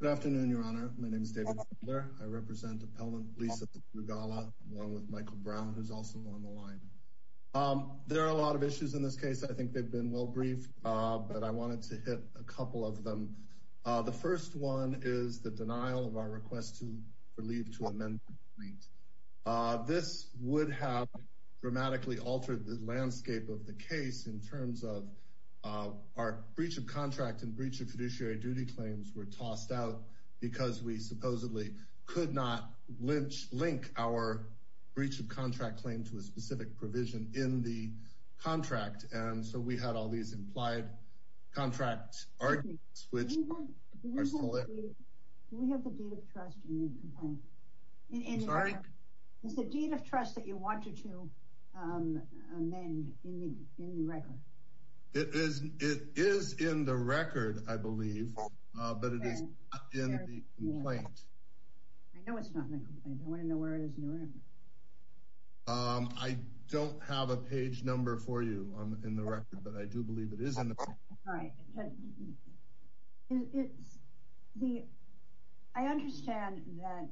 Good afternoon, Your Honor. My name is David Fidler. I represent Appellant Lisa Strugala, along with Michael Brown, who's also on the line. There are a lot of issues in this case. I think they've been well briefed, but I wanted to hit a couple of them. The first one is the denial of our request for leave to amend the complaint. This would have dramatically altered the landscape of the case in terms of our breach of contract and breach of fiduciary duty claims were tossed out because we supposedly could not link our breach of contract claim to a specific provision in the contract. And so we had all these implied contract arguments, which are still there. Do we have the deed of trust in the complaint? I'm sorry? Is the deed of trust that you wanted to amend in the record? It is in the record, I believe, but it is not in the complaint. I know it's not in the complaint. I want to know where it is in the record. I don't have a page number for you in the record, but I do believe it is in the record. All right. I understand that.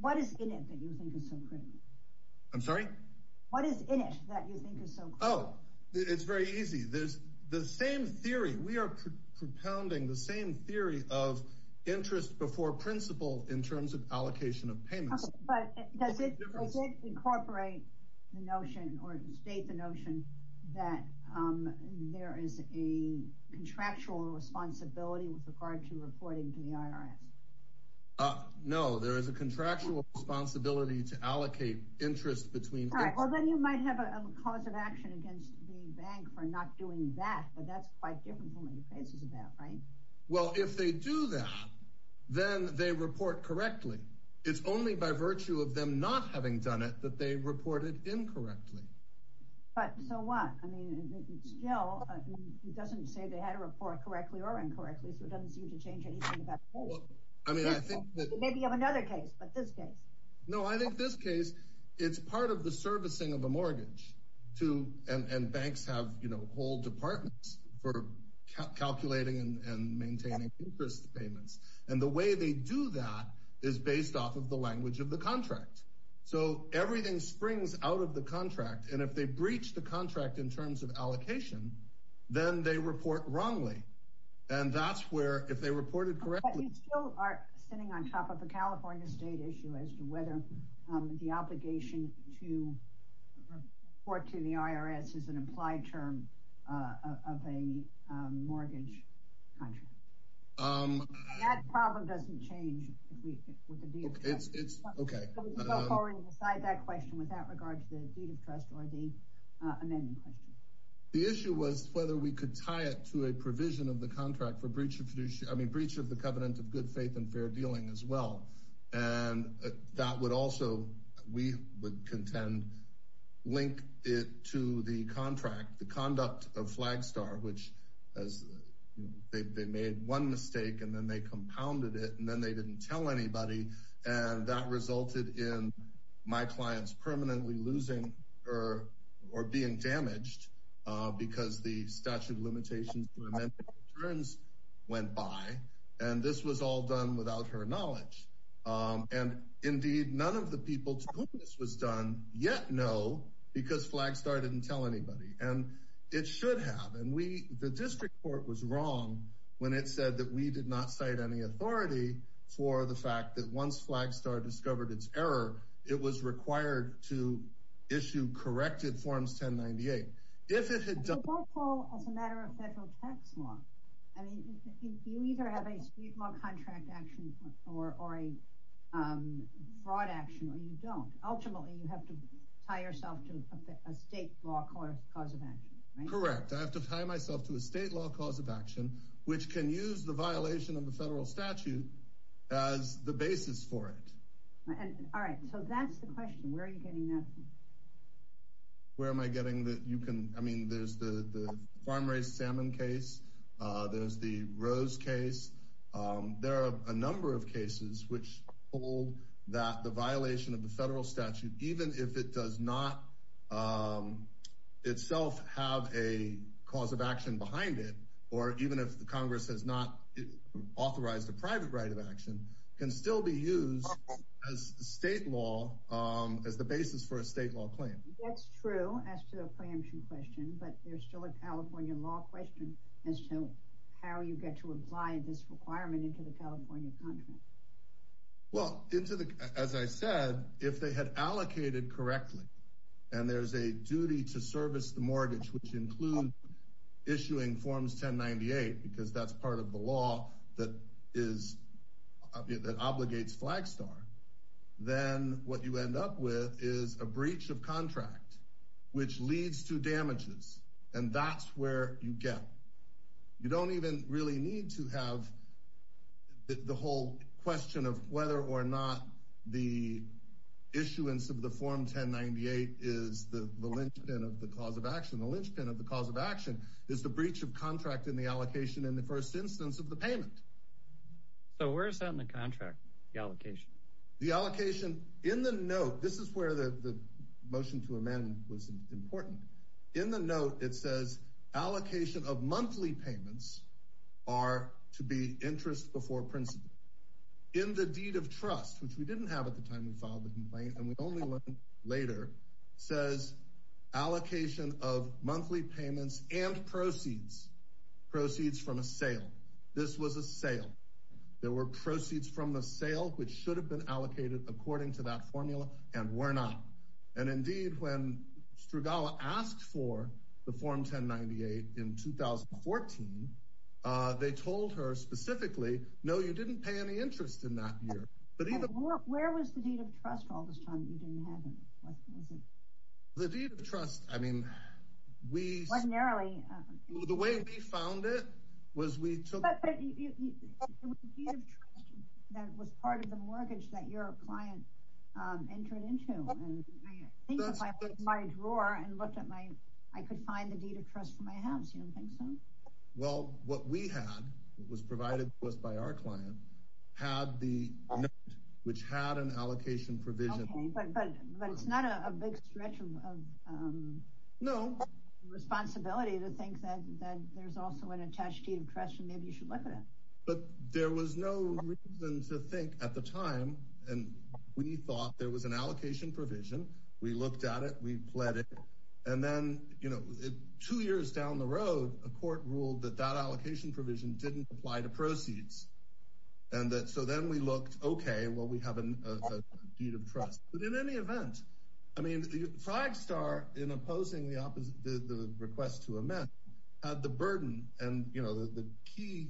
What is in it that you think is so critical? I'm sorry? What is in it that you think is so critical? Oh, it's very easy. There's the same theory. We are propounding the same theory of interest before principle in terms of allocation of payments. But does it incorporate the notion or state the notion that there is a contractual responsibility with regard to reporting to the IRS? No, there is a contractual responsibility to allocate interest between... Well, then you might have a cause of action against the bank for not doing that, but that's quite different from what your case is about, right? Well, if they do that, then they report correctly. It's only by virtue of them not having done it that they report it incorrectly. But so what? I mean, still, it doesn't say they had a report correctly or incorrectly, so it doesn't seem to change anything about the whole thing. I mean, I think that... Maybe you have another case, but this case. No, I think this case, it's part of the servicing of a mortgage to... And banks have whole departments for calculating and maintaining interest payments. And the way they do that is based off of the language of the contract. So everything springs out of the contract. And if they breach the contract in terms of allocation, then they report wrongly. And that's where, if they reported correctly... But you still are sitting on top of a California state issue as to whether the obligation to report to the IRS is an implied term of a mortgage contract. That problem doesn't change with the deed of trust. Okay. So we can go forward and decide that question without regard to the deed of trust or the amending question. The issue was whether we could tie it to a provision of the contract for breach of the covenant of good faith and fair dealing as well. And that would also, we would contend, link it to the contract, the conduct of Flagstar, which they made one mistake, and then they compounded it, and then they didn't tell anybody. And that resulted in my clients permanently losing or being damaged because the statute of limitations to amend returns went by. And this was all done without her knowledge. And indeed, none of the people to whom this was done yet know because Flagstar didn't tell anybody. And it should have. And the district court was wrong when it said that we did not cite any authority for the fact that once Flagstar discovered its error, it was required to issue corrected Forms 1098. If it had done... But that's all as a matter of federal tax law. I mean, you either have a street law contract action or a fraud action, or you don't. Ultimately, you have to tie yourself to a state law cause of action. Correct. I have to tie myself to a state law cause of action, which can use the violation of the federal statute as the basis for it. All right. So that's the question. Where are you getting that? Where am I getting that? You can. I mean, there's the farm raised salmon case. There's the Rose case. There are a number of cases which hold that the violation of the federal statute, even if it does not itself have a cause of action behind it, or even if the Congress has not authorized a private right of action, can still be used as state law as the basis for a state law claim. That's true as to the preemption question, but there's still a California law question as to how you get to apply this requirement into the California contract. Well, as I said, if they had allocated correctly and there's a duty to service the mortgage, which includes issuing Forms 1098, because that's part of the law that obligates Flagstar, then what you end up with is a breach of contract, which leads to damages. And that's where you get. You don't even really need to have the whole question of whether or not the issuance of the Form 1098 is the linchpin of the cause of action. The linchpin of the cause of action is the breach of contract in the allocation in the first instance of the payment. So where is that in the contract, the allocation? The allocation in the note. This is where the motion to amend was important. In the note, it says allocation of monthly payments are to be interest before principle in the deed of trust, which we didn't have at the time we filed the complaint. And we only later says allocation of monthly payments and proceeds proceeds from a sale. This was a sale. There were proceeds from the sale which should have been allocated according to that formula and were not. And indeed, when Strugalla asked for the Form 1098 in 2014, they told her specifically, no, you didn't pay any interest in that year. But where was the deed of trust all this time? You didn't have the deed of trust. I mean, we found it was we took that was part of the mortgage that your client entered into my drawer and looked at my I could find the deed of trust for my house. Well, what we had was provided to us by our client had the which had an allocation provision. But it's not a big stretch of no responsibility to think that there's also an attached deed of trust. And maybe you should look at it. But there was no reason to think at the time. And we thought there was an allocation provision. We looked at it. We pled it. And then, you know, two years down the road, a court ruled that that allocation provision didn't apply to proceeds. And so then we looked, OK, well, we have a deed of trust. But in any event, I mean, Flagstar, in opposing the request to amend the burden. And, you know, the key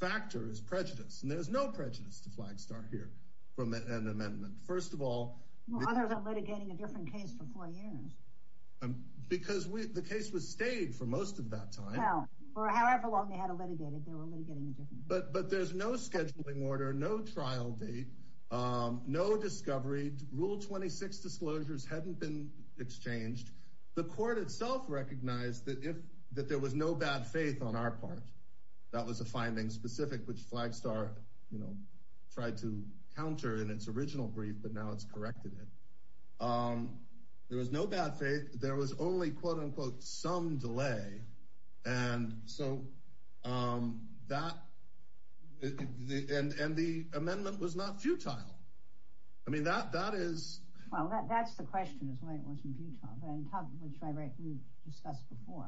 factor is prejudice. And there's no prejudice to Flagstar here from an amendment. First of all, others are litigating a different case for four years because the case was stayed for most of that time. Or however long they had a litigated. But but there's no scheduling order, no trial date, no discovery. Rule 26 disclosures hadn't been exchanged. The court itself recognized that if that there was no bad faith on our part, that was a finding specific, which Flagstar, you know, tried to counter in its original brief. But now it's corrected. There was no bad faith. There was only, quote, unquote, some delay. And so that the end and the amendment was not futile. I mean, that that is. Well, that's the question is why it wasn't futile. And which I discussed before.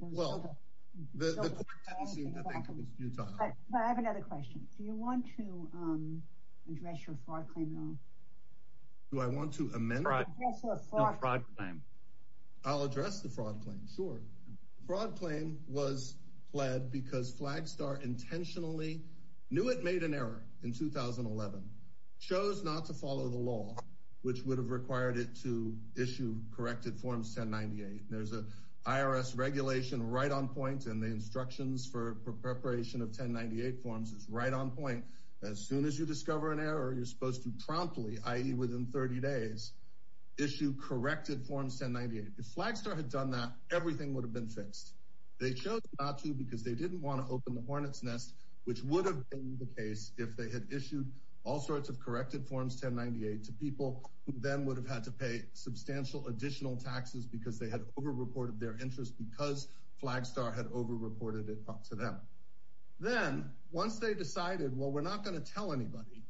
Well, I have another question. Do you want to address your fraud claim? Do I want to amend my fraud claim? I'll address the fraud claim. Sure. Fraud claim was pled because Flagstar intentionally knew it made an error in 2011. Chose not to follow the law, which would have required it to issue corrected forms. Ten ninety eight. There's a IRS regulation right on point. And the instructions for preparation of ten ninety eight forms is right on point. As soon as you discover an error, you're supposed to promptly, i.e. within 30 days, issue corrected forms. Ten ninety eight. If Flagstar had done that, everything would have been fixed. They chose not to because they didn't want to open the hornet's nest, which would have been the case if they had issued all sorts of corrected forms. Ten ninety eight to people who then would have had to pay substantial additional taxes because they had overreported their interest because Flagstar had overreported it to them. Then once they decided, well, we're not going to tell anybody.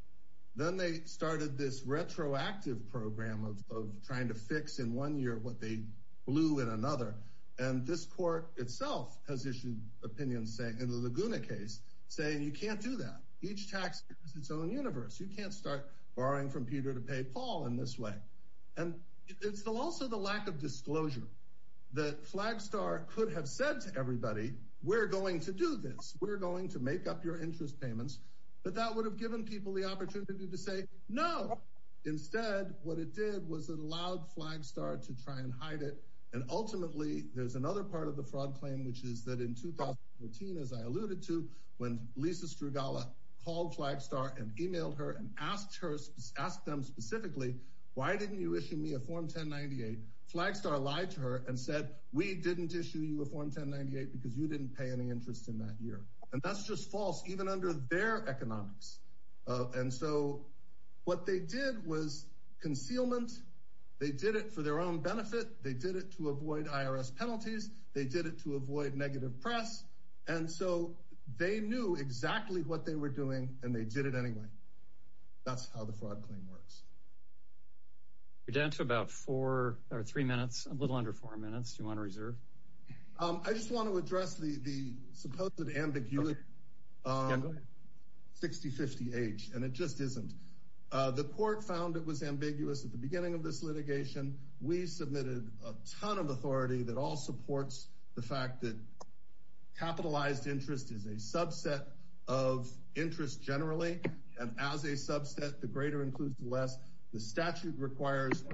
Then they started this retroactive program of trying to fix in one year what they blew in another. And this court itself has issued opinions saying in the Laguna case say you can't do that. Each tax is its own universe. You can't start borrowing from Peter to pay Paul in this way. And it's also the lack of disclosure that Flagstar could have said to everybody, we're going to do this. We're going to make up your interest payments. But that would have given people the opportunity to say no. Instead, what it did was it allowed Flagstar to try and hide it. And ultimately, there's another part of the fraud claim, which is that in 2014, as I alluded to, when Lisa Strugala called Flagstar and emailed her and asked her, ask them specifically, why didn't you issue me a form ten ninety eight? Flagstar lied to her and said, we didn't issue you a form ten ninety eight because you didn't pay any interest in that year. And that's just false, even under their economics. And so what they did was concealment. They did it for their own benefit. They did it to avoid IRS penalties. They did it to avoid negative press. And so they knew exactly what they were doing and they did it anyway. That's how the fraud claim works. You're down to about four or three minutes, a little under four minutes. You want to reserve. I just want to address the supposed ambiguity. Sixty fifty age. And it just isn't. The court found it was ambiguous at the beginning of this litigation. We submitted a ton of authority that all supports the fact that capitalized interest is a subset of interest generally. And as a subset, the greater includes the less the statute requires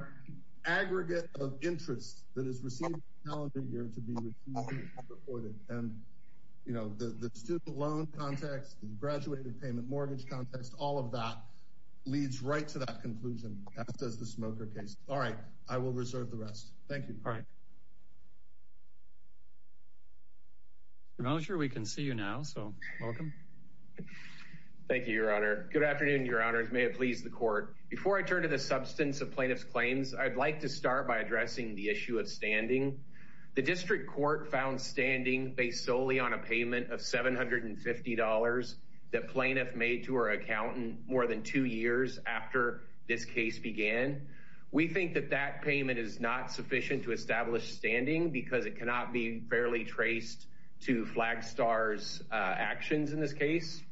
aggregate of interest that is received to be reported. And, you know, the student loan context, the graduated payment mortgage context, all of that leads right to that conclusion. Does the smoker case. All right. I will reserve the rest. Thank you. All right. I'm not sure we can see you now. So welcome. Thank you, Your Honor. Good afternoon, Your Honors. May it please the court. Before I turn to the substance of plaintiff's claims, I'd like to start by addressing the issue of standing. The district court found standing based solely on a payment of seven hundred and fifty dollars that plaintiff made to her accountant more than two years after this case began. We think that that payment is not sufficient to establish standing because it cannot be fairly traced to flag stars actions in this case.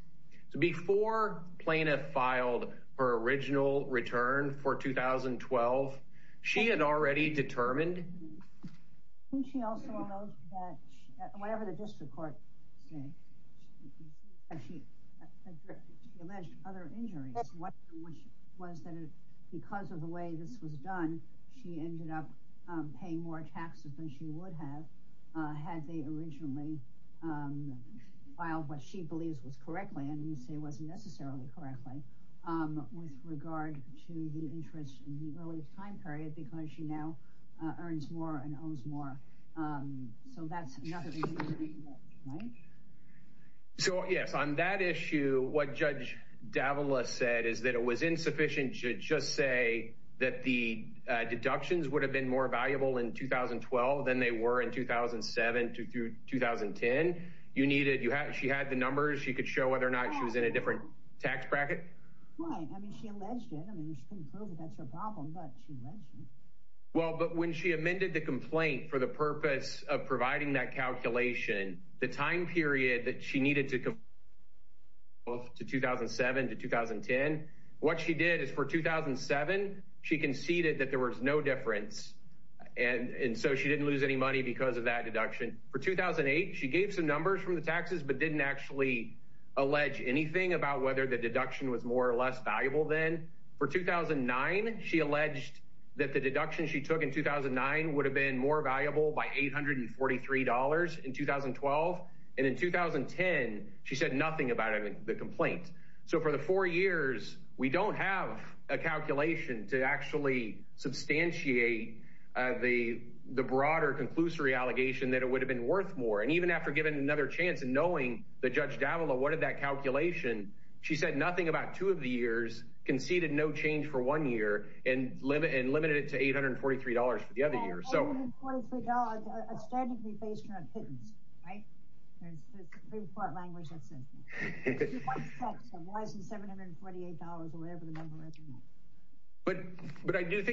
Before plaintiff filed her original return for 2012, she had already determined. She also knows that whatever the district court said, she alleged other injuries. What was that? Because of the way this was done, she ended up paying more taxes than she would have had they originally filed. What she believes was correctly and you say wasn't necessarily correctly with regard to the interest in the early time period, because she now earns more and owes more. So that's another. So, yes, on that issue, what Judge Davila said is that it was insufficient to just say that the deductions would have been more valuable in 2012 than they were in 2007 to 2010. You needed you. She had the numbers. She could show whether or not she was in a different tax bracket. Why? I mean, she alleged it. I mean, she can prove it. That's your problem. But she mentioned, well, but when she amended the complaint for the purpose of providing that calculation, the time period that she needed to go to 2007 to 2010, what she did is for 2007. She conceded that there was no difference. And so she didn't lose any money because of that deduction for 2008. She gave some numbers from the taxes, but didn't actually allege anything about whether the deduction was more or less valuable than for 2009. She alleged that the deduction she took in 2009 would have been more valuable by eight hundred and forty three dollars in 2012. And in 2010, she said nothing about the complaint. So for the four years, we don't have a calculation to actually substantiate the the broader conclusory allegation that it would have been worth more. And even after giving another chance and knowing that Judge Davila, what did that calculation? She said nothing about two of the years conceded no change for one year and limit and limited it to eight hundred and forty three dollars for the other year. So I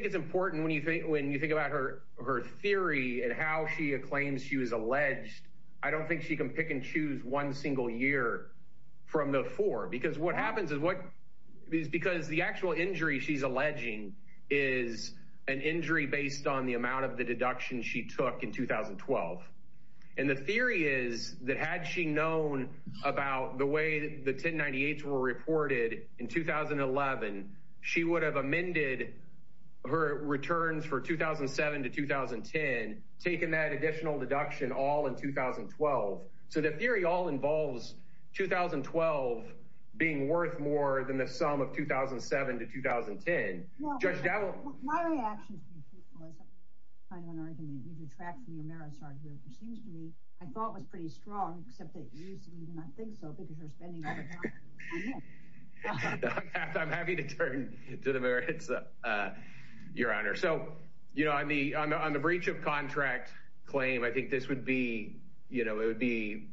think it's important when you think when you think about her, her theory and how she claims she was alleged. I don't think she can pick and choose one single year from the four, because what happens is what is because the actual injury she's alleging is an injury based on the amount of the deduction she took in 2012. And the theory is that had she known about the way the 1098 were reported in 2011, she would have amended her returns for 2007 to 2010, taking that additional deduction all in 2012. So the theory all involves 2012 being worth more than the sum of 2007 to 2010. Judge Davila. My reaction. I don't want to make you detract from your merits argument, which seems to me I thought was pretty strong, except that you do not think so because you're spending. I'm happy to turn to the merits, Your Honor. So, you know, I'm the I'm the breach of contract claim. I think this would be, you know, it would be,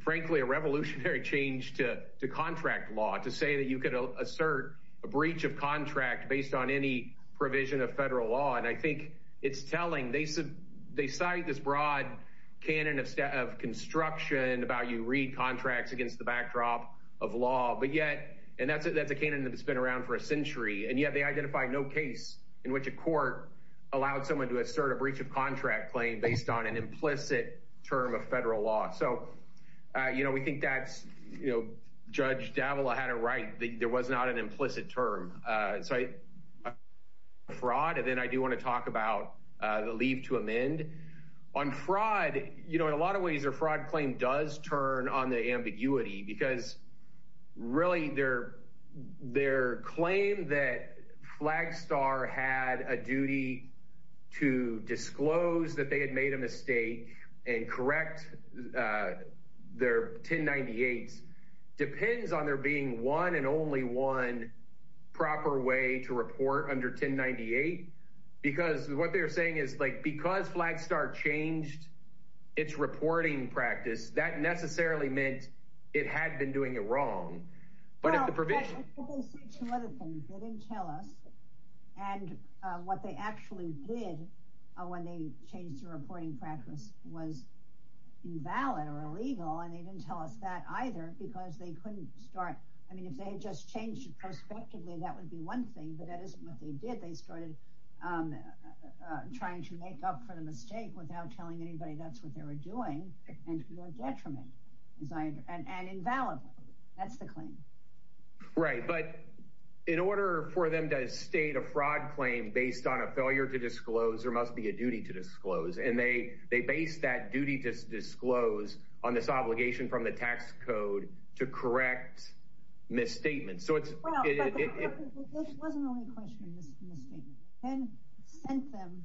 frankly, a revolutionary change to to contract law to say that you could assert a breach of contract based on any provision of federal law. And I think it's telling. They said they cite this broad canon of of construction about you read contracts against the backdrop of law. But yet and that's it. That's a canon that's been around for a century. And yet they identify no case in which a court allowed someone to assert a breach of contract claim based on an implicit term of federal law. So, you know, we think that's, you know, Judge Davila had it right. There was not an implicit term. So fraud. And then I do want to talk about the leave to amend on fraud. You know, in a lot of ways, their fraud claim does turn on the ambiguity because really, their their claim that Flagstar had a duty to disclose that they had made a mistake and correct their ten ninety eight depends on there being one and only one proper way to report under ten ninety eight. Because what they're saying is like because Flagstar changed its reporting practice, that necessarily meant it had been doing it wrong. But if the provision. They didn't tell us. And what they actually did when they changed the reporting practice was invalid or illegal. And they didn't tell us that either, because they couldn't start. I mean, if they had just changed it prospectively, that would be one thing. But that is what they did. They started trying to make up for the mistake without telling anybody. That's what they were doing. Detriment and invalid. That's the claim. Right. But in order for them to state a fraud claim based on a failure to disclose, there must be a duty to disclose. And they they base that duty to disclose on this obligation from the tax code to correct misstatements. This wasn't the only question in this statement. They sent them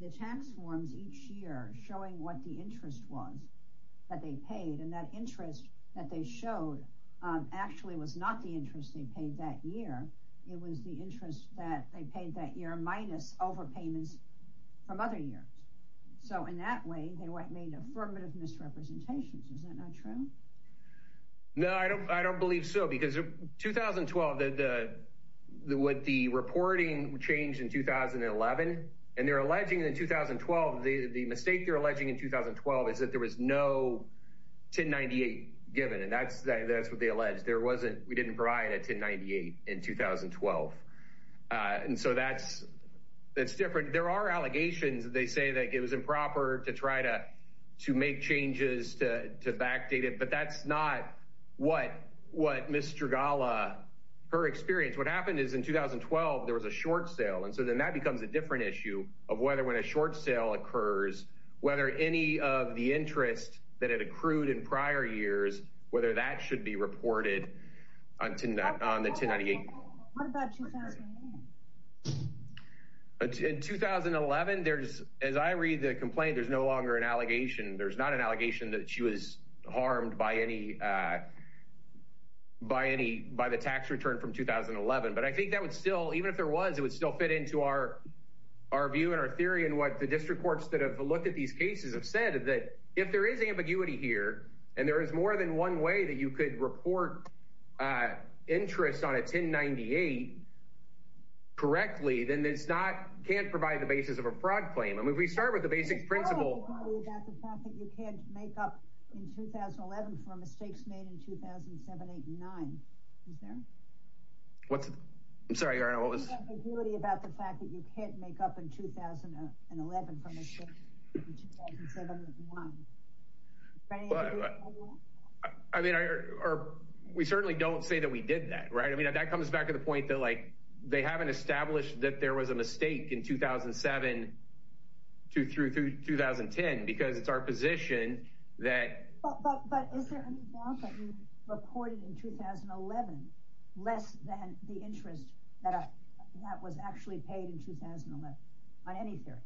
the tax forms each year showing what the interest was that they paid. And that interest that they showed actually was not the interest they paid that year. It was the interest that they paid that year minus overpayments from other years. So in that way, they made affirmative misrepresentations. Is that not true? No, I don't. I don't believe so. Because 2012, what the reporting changed in 2011, and they're alleging in 2012, the mistake they're alleging in 2012 is that there was no 1098 given. And that's what they allege. There wasn't. We didn't provide a 1098 in 2012. And so that's different. There are allegations. They say that it was improper to try to make changes to backdate it. But that's not what Ms. Strugala, her experience. What happened is in 2012, there was a short sale. And so then that becomes a different issue of whether when a short sale occurs, whether any of the interest that had accrued in prior years, whether that should be reported on the 1098. What about 2008? In 2011, as I read the complaint, there's no longer an allegation. There's not an allegation that she was harmed by the tax return from 2011. But I think that would still, even if there was, it would still fit into our view and our theory and what the district courts that have looked at these cases have said, that if there is ambiguity here and there is more than one way that you could report interest on a 1098, correctly, then it's not, can't provide the basis of a fraud claim. I mean, if we start with the basic principle. There's no ambiguity about the fact that you can't make up in 2011 for mistakes made in 2007, 8, and 9. Is there? What's the? I'm sorry, Your Honor, what was? There's no ambiguity about the fact that you can't make up in 2011 for mistakes made in 2007, 8, and 9. Is there any ambiguity about that? I mean, we certainly don't say that we did that, right? I mean, that comes back to the point that, like, they haven't established that there was a mistake in 2007 through 2010 because it's our position that. But is there any doubt that you reported in 2011 less than the interest that was actually paid in 2011 on any theory?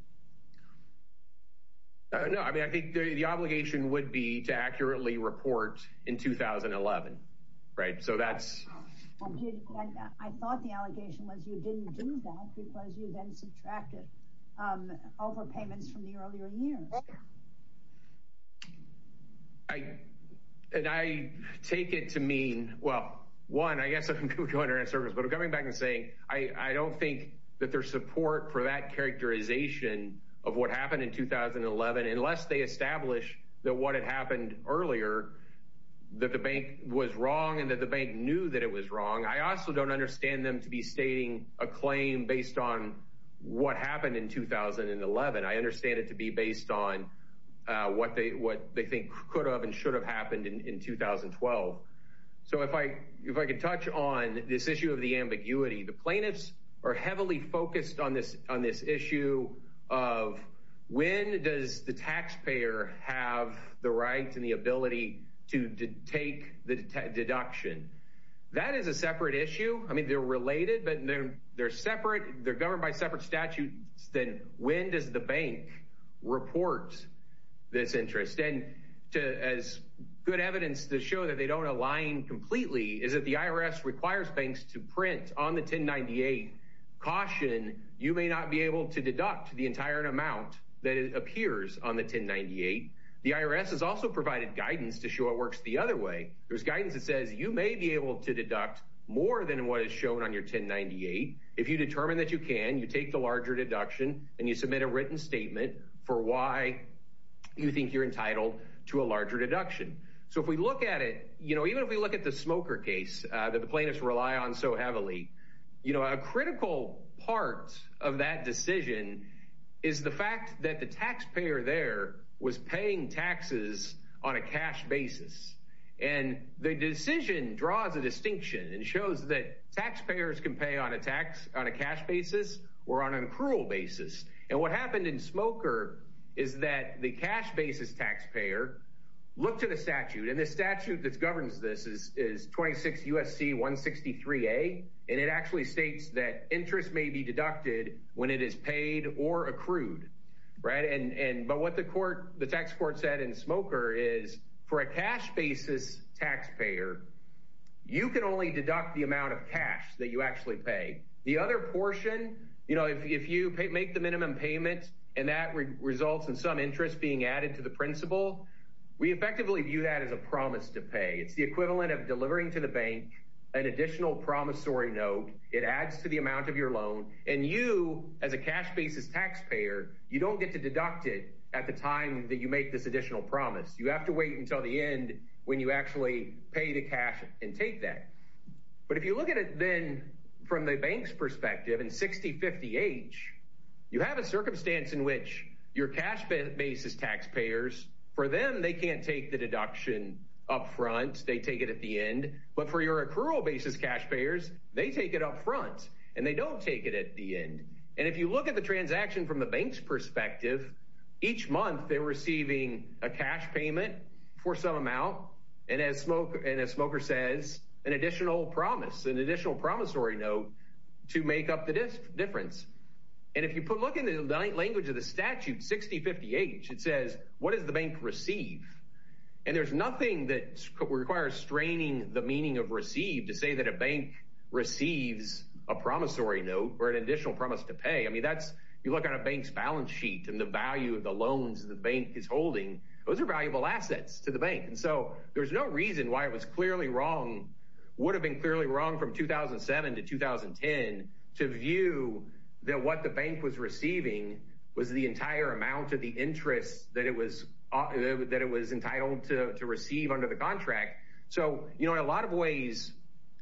No, I mean, I think the obligation would be to accurately report in 2011, right? So that's. I thought the allegation was you didn't do that because you then subtracted overpayments from the earlier years. And I take it to mean, well, one, I guess I'm going to go under that surface. But I'm coming back and saying I don't think that there's support for that characterization of what happened in 2011 unless they establish that what had happened earlier, that the bank was wrong and that the bank knew that it was wrong. I also don't understand them to be stating a claim based on what happened in 2011. I understand it to be based on what they think could have and should have happened in 2012. So if I could touch on this issue of the ambiguity. The plaintiffs are heavily focused on this issue of when does the taxpayer have the right and the ability to take the deduction? That is a separate issue. I mean, they're related, but they're separate. They're governed by separate statutes. Then when does the bank report this interest? As good evidence to show that they don't align completely is that the IRS requires banks to print on the 1098, caution, you may not be able to deduct the entire amount that appears on the 1098. The IRS has also provided guidance to show it works the other way. There's guidance that says you may be able to deduct more than what is shown on your 1098. If you determine that you can, you take the larger deduction and you submit a written statement for why you think you're entitled to a larger deduction. So if we look at it, even if we look at the smoker case that the plaintiffs rely on so heavily, a critical part of that decision is the fact that the taxpayer there was paying taxes on a cash basis. The decision draws a distinction and shows that taxpayers can pay on a cash basis or on an accrual basis. What happened in Smoker is that the cash basis taxpayer looked at a statute, and the statute that governs this is 26 U.S.C. 163a, and it actually states that interest may be deducted when it is paid or accrued. But what the tax court said in Smoker is for a cash basis taxpayer, you can only deduct the amount of cash that you actually pay. The other portion, if you make the minimum payment and that results in some interest being added to the principal, we effectively view that as a promise to pay. It's the equivalent of delivering to the bank an additional promissory note. It adds to the amount of your loan. And you, as a cash basis taxpayer, you don't get to deduct it at the time that you make this additional promise. You have to wait until the end when you actually pay the cash and take that. But if you look at it then from the bank's perspective, in 6050H, you have a circumstance in which your cash basis taxpayers, for them, they can't take the deduction up front. They take it at the end. But for your accrual basis cash payers, they take it up front, and they don't take it at the end. And if you look at the transaction from the bank's perspective, each month they're receiving a cash payment for some amount, and as Smoker says, an additional promise, an additional promissory note to make up the difference. And if you look in the language of the statute, 6050H, it says, what does the bank receive? And there's nothing that requires straining the meaning of receive to say that a bank receives a promissory note or an additional promise to pay. I mean, that's, you look at a bank's balance sheet and the value of the loans the bank is holding, those are valuable assets to the bank. And so there's no reason why it was clearly wrong, would have been clearly wrong from 2007 to 2010, to view that what the bank was receiving was the entire amount of the interest that it was entitled to receive under the contract. So, you know, in a lot of ways,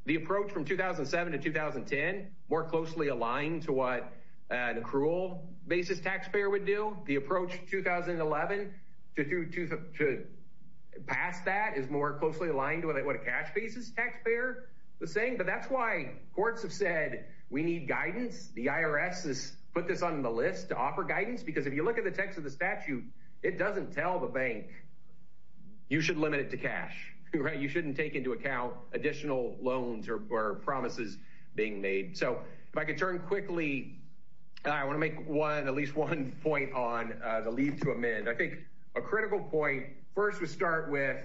the approach from 2007 to 2010 more closely aligned to what an accrual basis taxpayer would do. The approach 2011 to pass that is more closely aligned to what a cash basis taxpayer was saying. But that's why courts have said we need guidance. The IRS has put this on the list to offer guidance, because if you look at the text of the statute, it doesn't tell the bank you should limit it to cash. You shouldn't take into account additional loans or promises being made. So if I could turn quickly, I want to make one at least one point on the leave to amend. I think a critical point first would start with,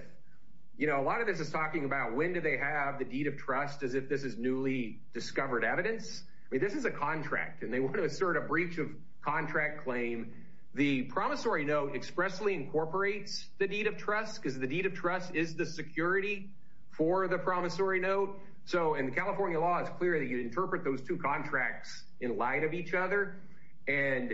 you know, a lot of this is talking about when do they have the deed of trust as if this is newly discovered evidence. I mean, this is a contract and they want to assert a breach of contract claim. The promissory note expressly incorporates the deed of trust because the deed of trust is the security for the promissory note. So in the California law, it's clear that you interpret those two contracts in light of each other. And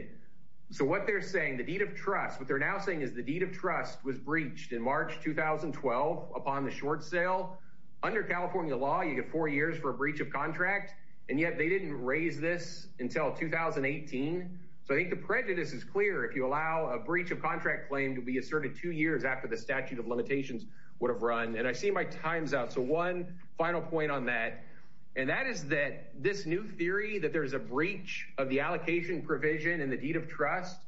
so what they're saying, the deed of trust, what they're now saying is the deed of trust was breached in March 2012 upon the short sale. Under California law, you get four years for a breach of contract. And yet they didn't raise this until 2018. So I think the prejudice is clear. If you allow a breach of contract claim to be asserted two years after the statute of limitations would have run. And I see my time's out. So one final point on that. And that is that this new theory that there's a breach of the allocation provision in the deed of trust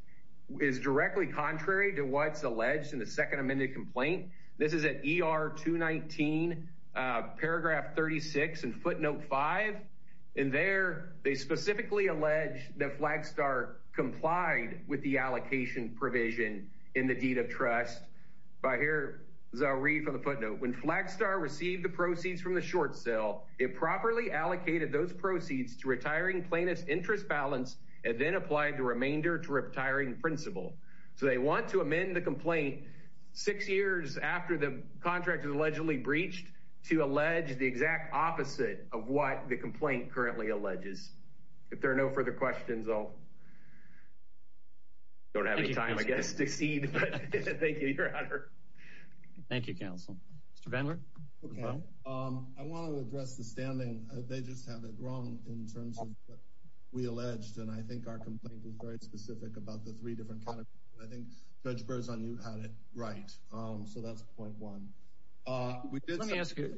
is directly contrary to what's alleged in the second amended complaint. This is an ER 219 paragraph 36 and footnote five. And there they specifically allege that Flagstar complied with the allocation provision in the deed of trust. If I hear, as I read from the footnote, when Flagstar received the proceeds from the short sale, it properly allocated those proceeds to retiring plaintiff's interest balance and then applied the remainder to retiring principal. So they want to amend the complaint six years after the contract is allegedly breached to allege the exact opposite of what the complaint currently alleges. If there are no further questions, I'll don't have any time, I guess, to cede. Thank you. Your Honor. Thank you, Counsel. Mr. Vandler. I want to address the standing. They just have it wrong in terms of what we alleged. And I think our complaint is very specific about the three different kinds. I think Judge Berzon, you had it right. So that's point one. Let me ask you.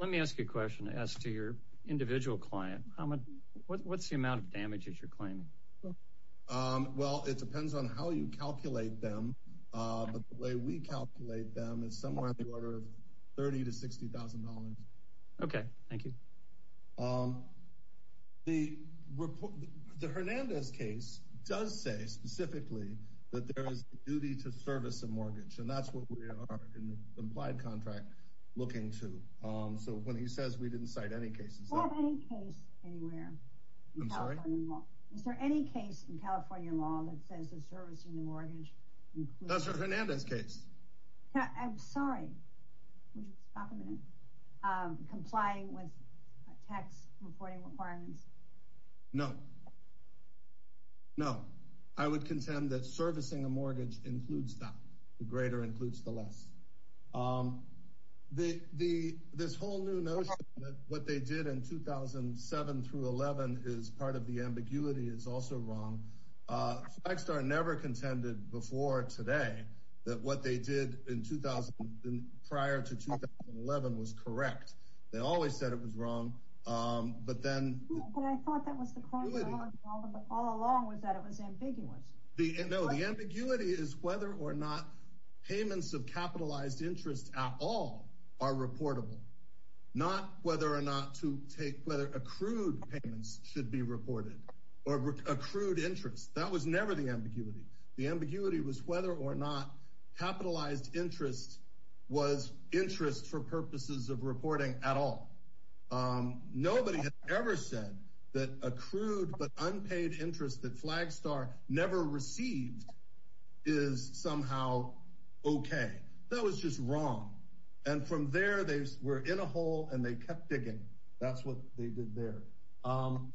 What's the amount of damage that you're claiming? Well, it depends on how you calculate them. The way we calculate them is somewhere in the order of $30,000 to $60,000. Okay. Thank you. The Hernandez case does say specifically that there is a duty to service a mortgage. And that's what we are, in the implied contract, looking to. So when he says we didn't cite any cases. We don't have any case anywhere. I'm sorry? Is there any case in California law that says the service in the mortgage? That's for Hernandez case. I'm sorry. Complying with tax reporting requirements? No. No. I would contend that servicing a mortgage includes that. The greater includes the less. The this whole new notion that what they did in 2007 through 11 is part of the ambiguity is also wrong. I started never contended before today that what they did in 2000 prior to 2011 was correct. They always said it was wrong. But then I thought that was the point. All along was that it was ambiguous. The ambiguity is whether or not payments of capitalized interest at all are reportable. Not whether or not to take whether accrued payments should be reported or accrued interest. That was never the ambiguity. The ambiguity was whether or not capitalized interest was interest for purposes of reporting at all. Nobody ever said that accrued but unpaid interest that Flagstar never received is somehow OK. That was just wrong. And from there, they were in a hole and they kept digging. That's what they did there.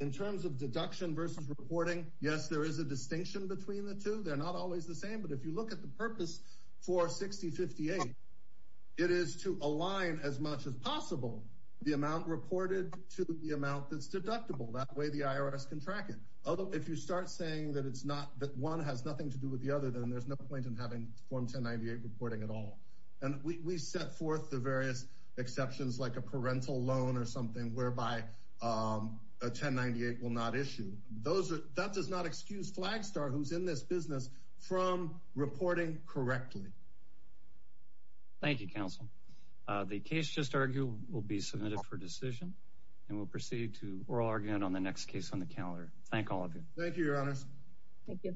In terms of deduction versus reporting. Yes, there is a distinction between the two. They're not always the same. But if you look at the purpose for 6058, it is to align as much as possible the amount reported to the amount that's deductible. That way the IRS can track it. If you start saying that one has nothing to do with the other, then there's no point in having Form 1098 reporting at all. And we set forth the various exceptions like a parental loan or something whereby a 1098 will not issue. That does not excuse Flagstar, who's in this business, from reporting correctly. Thank you, Counsel. The case just argued will be submitted for decision and we'll proceed to oral argument on the next case on the calendar. Thank all of you. Thank you, Your Honors. Thank you.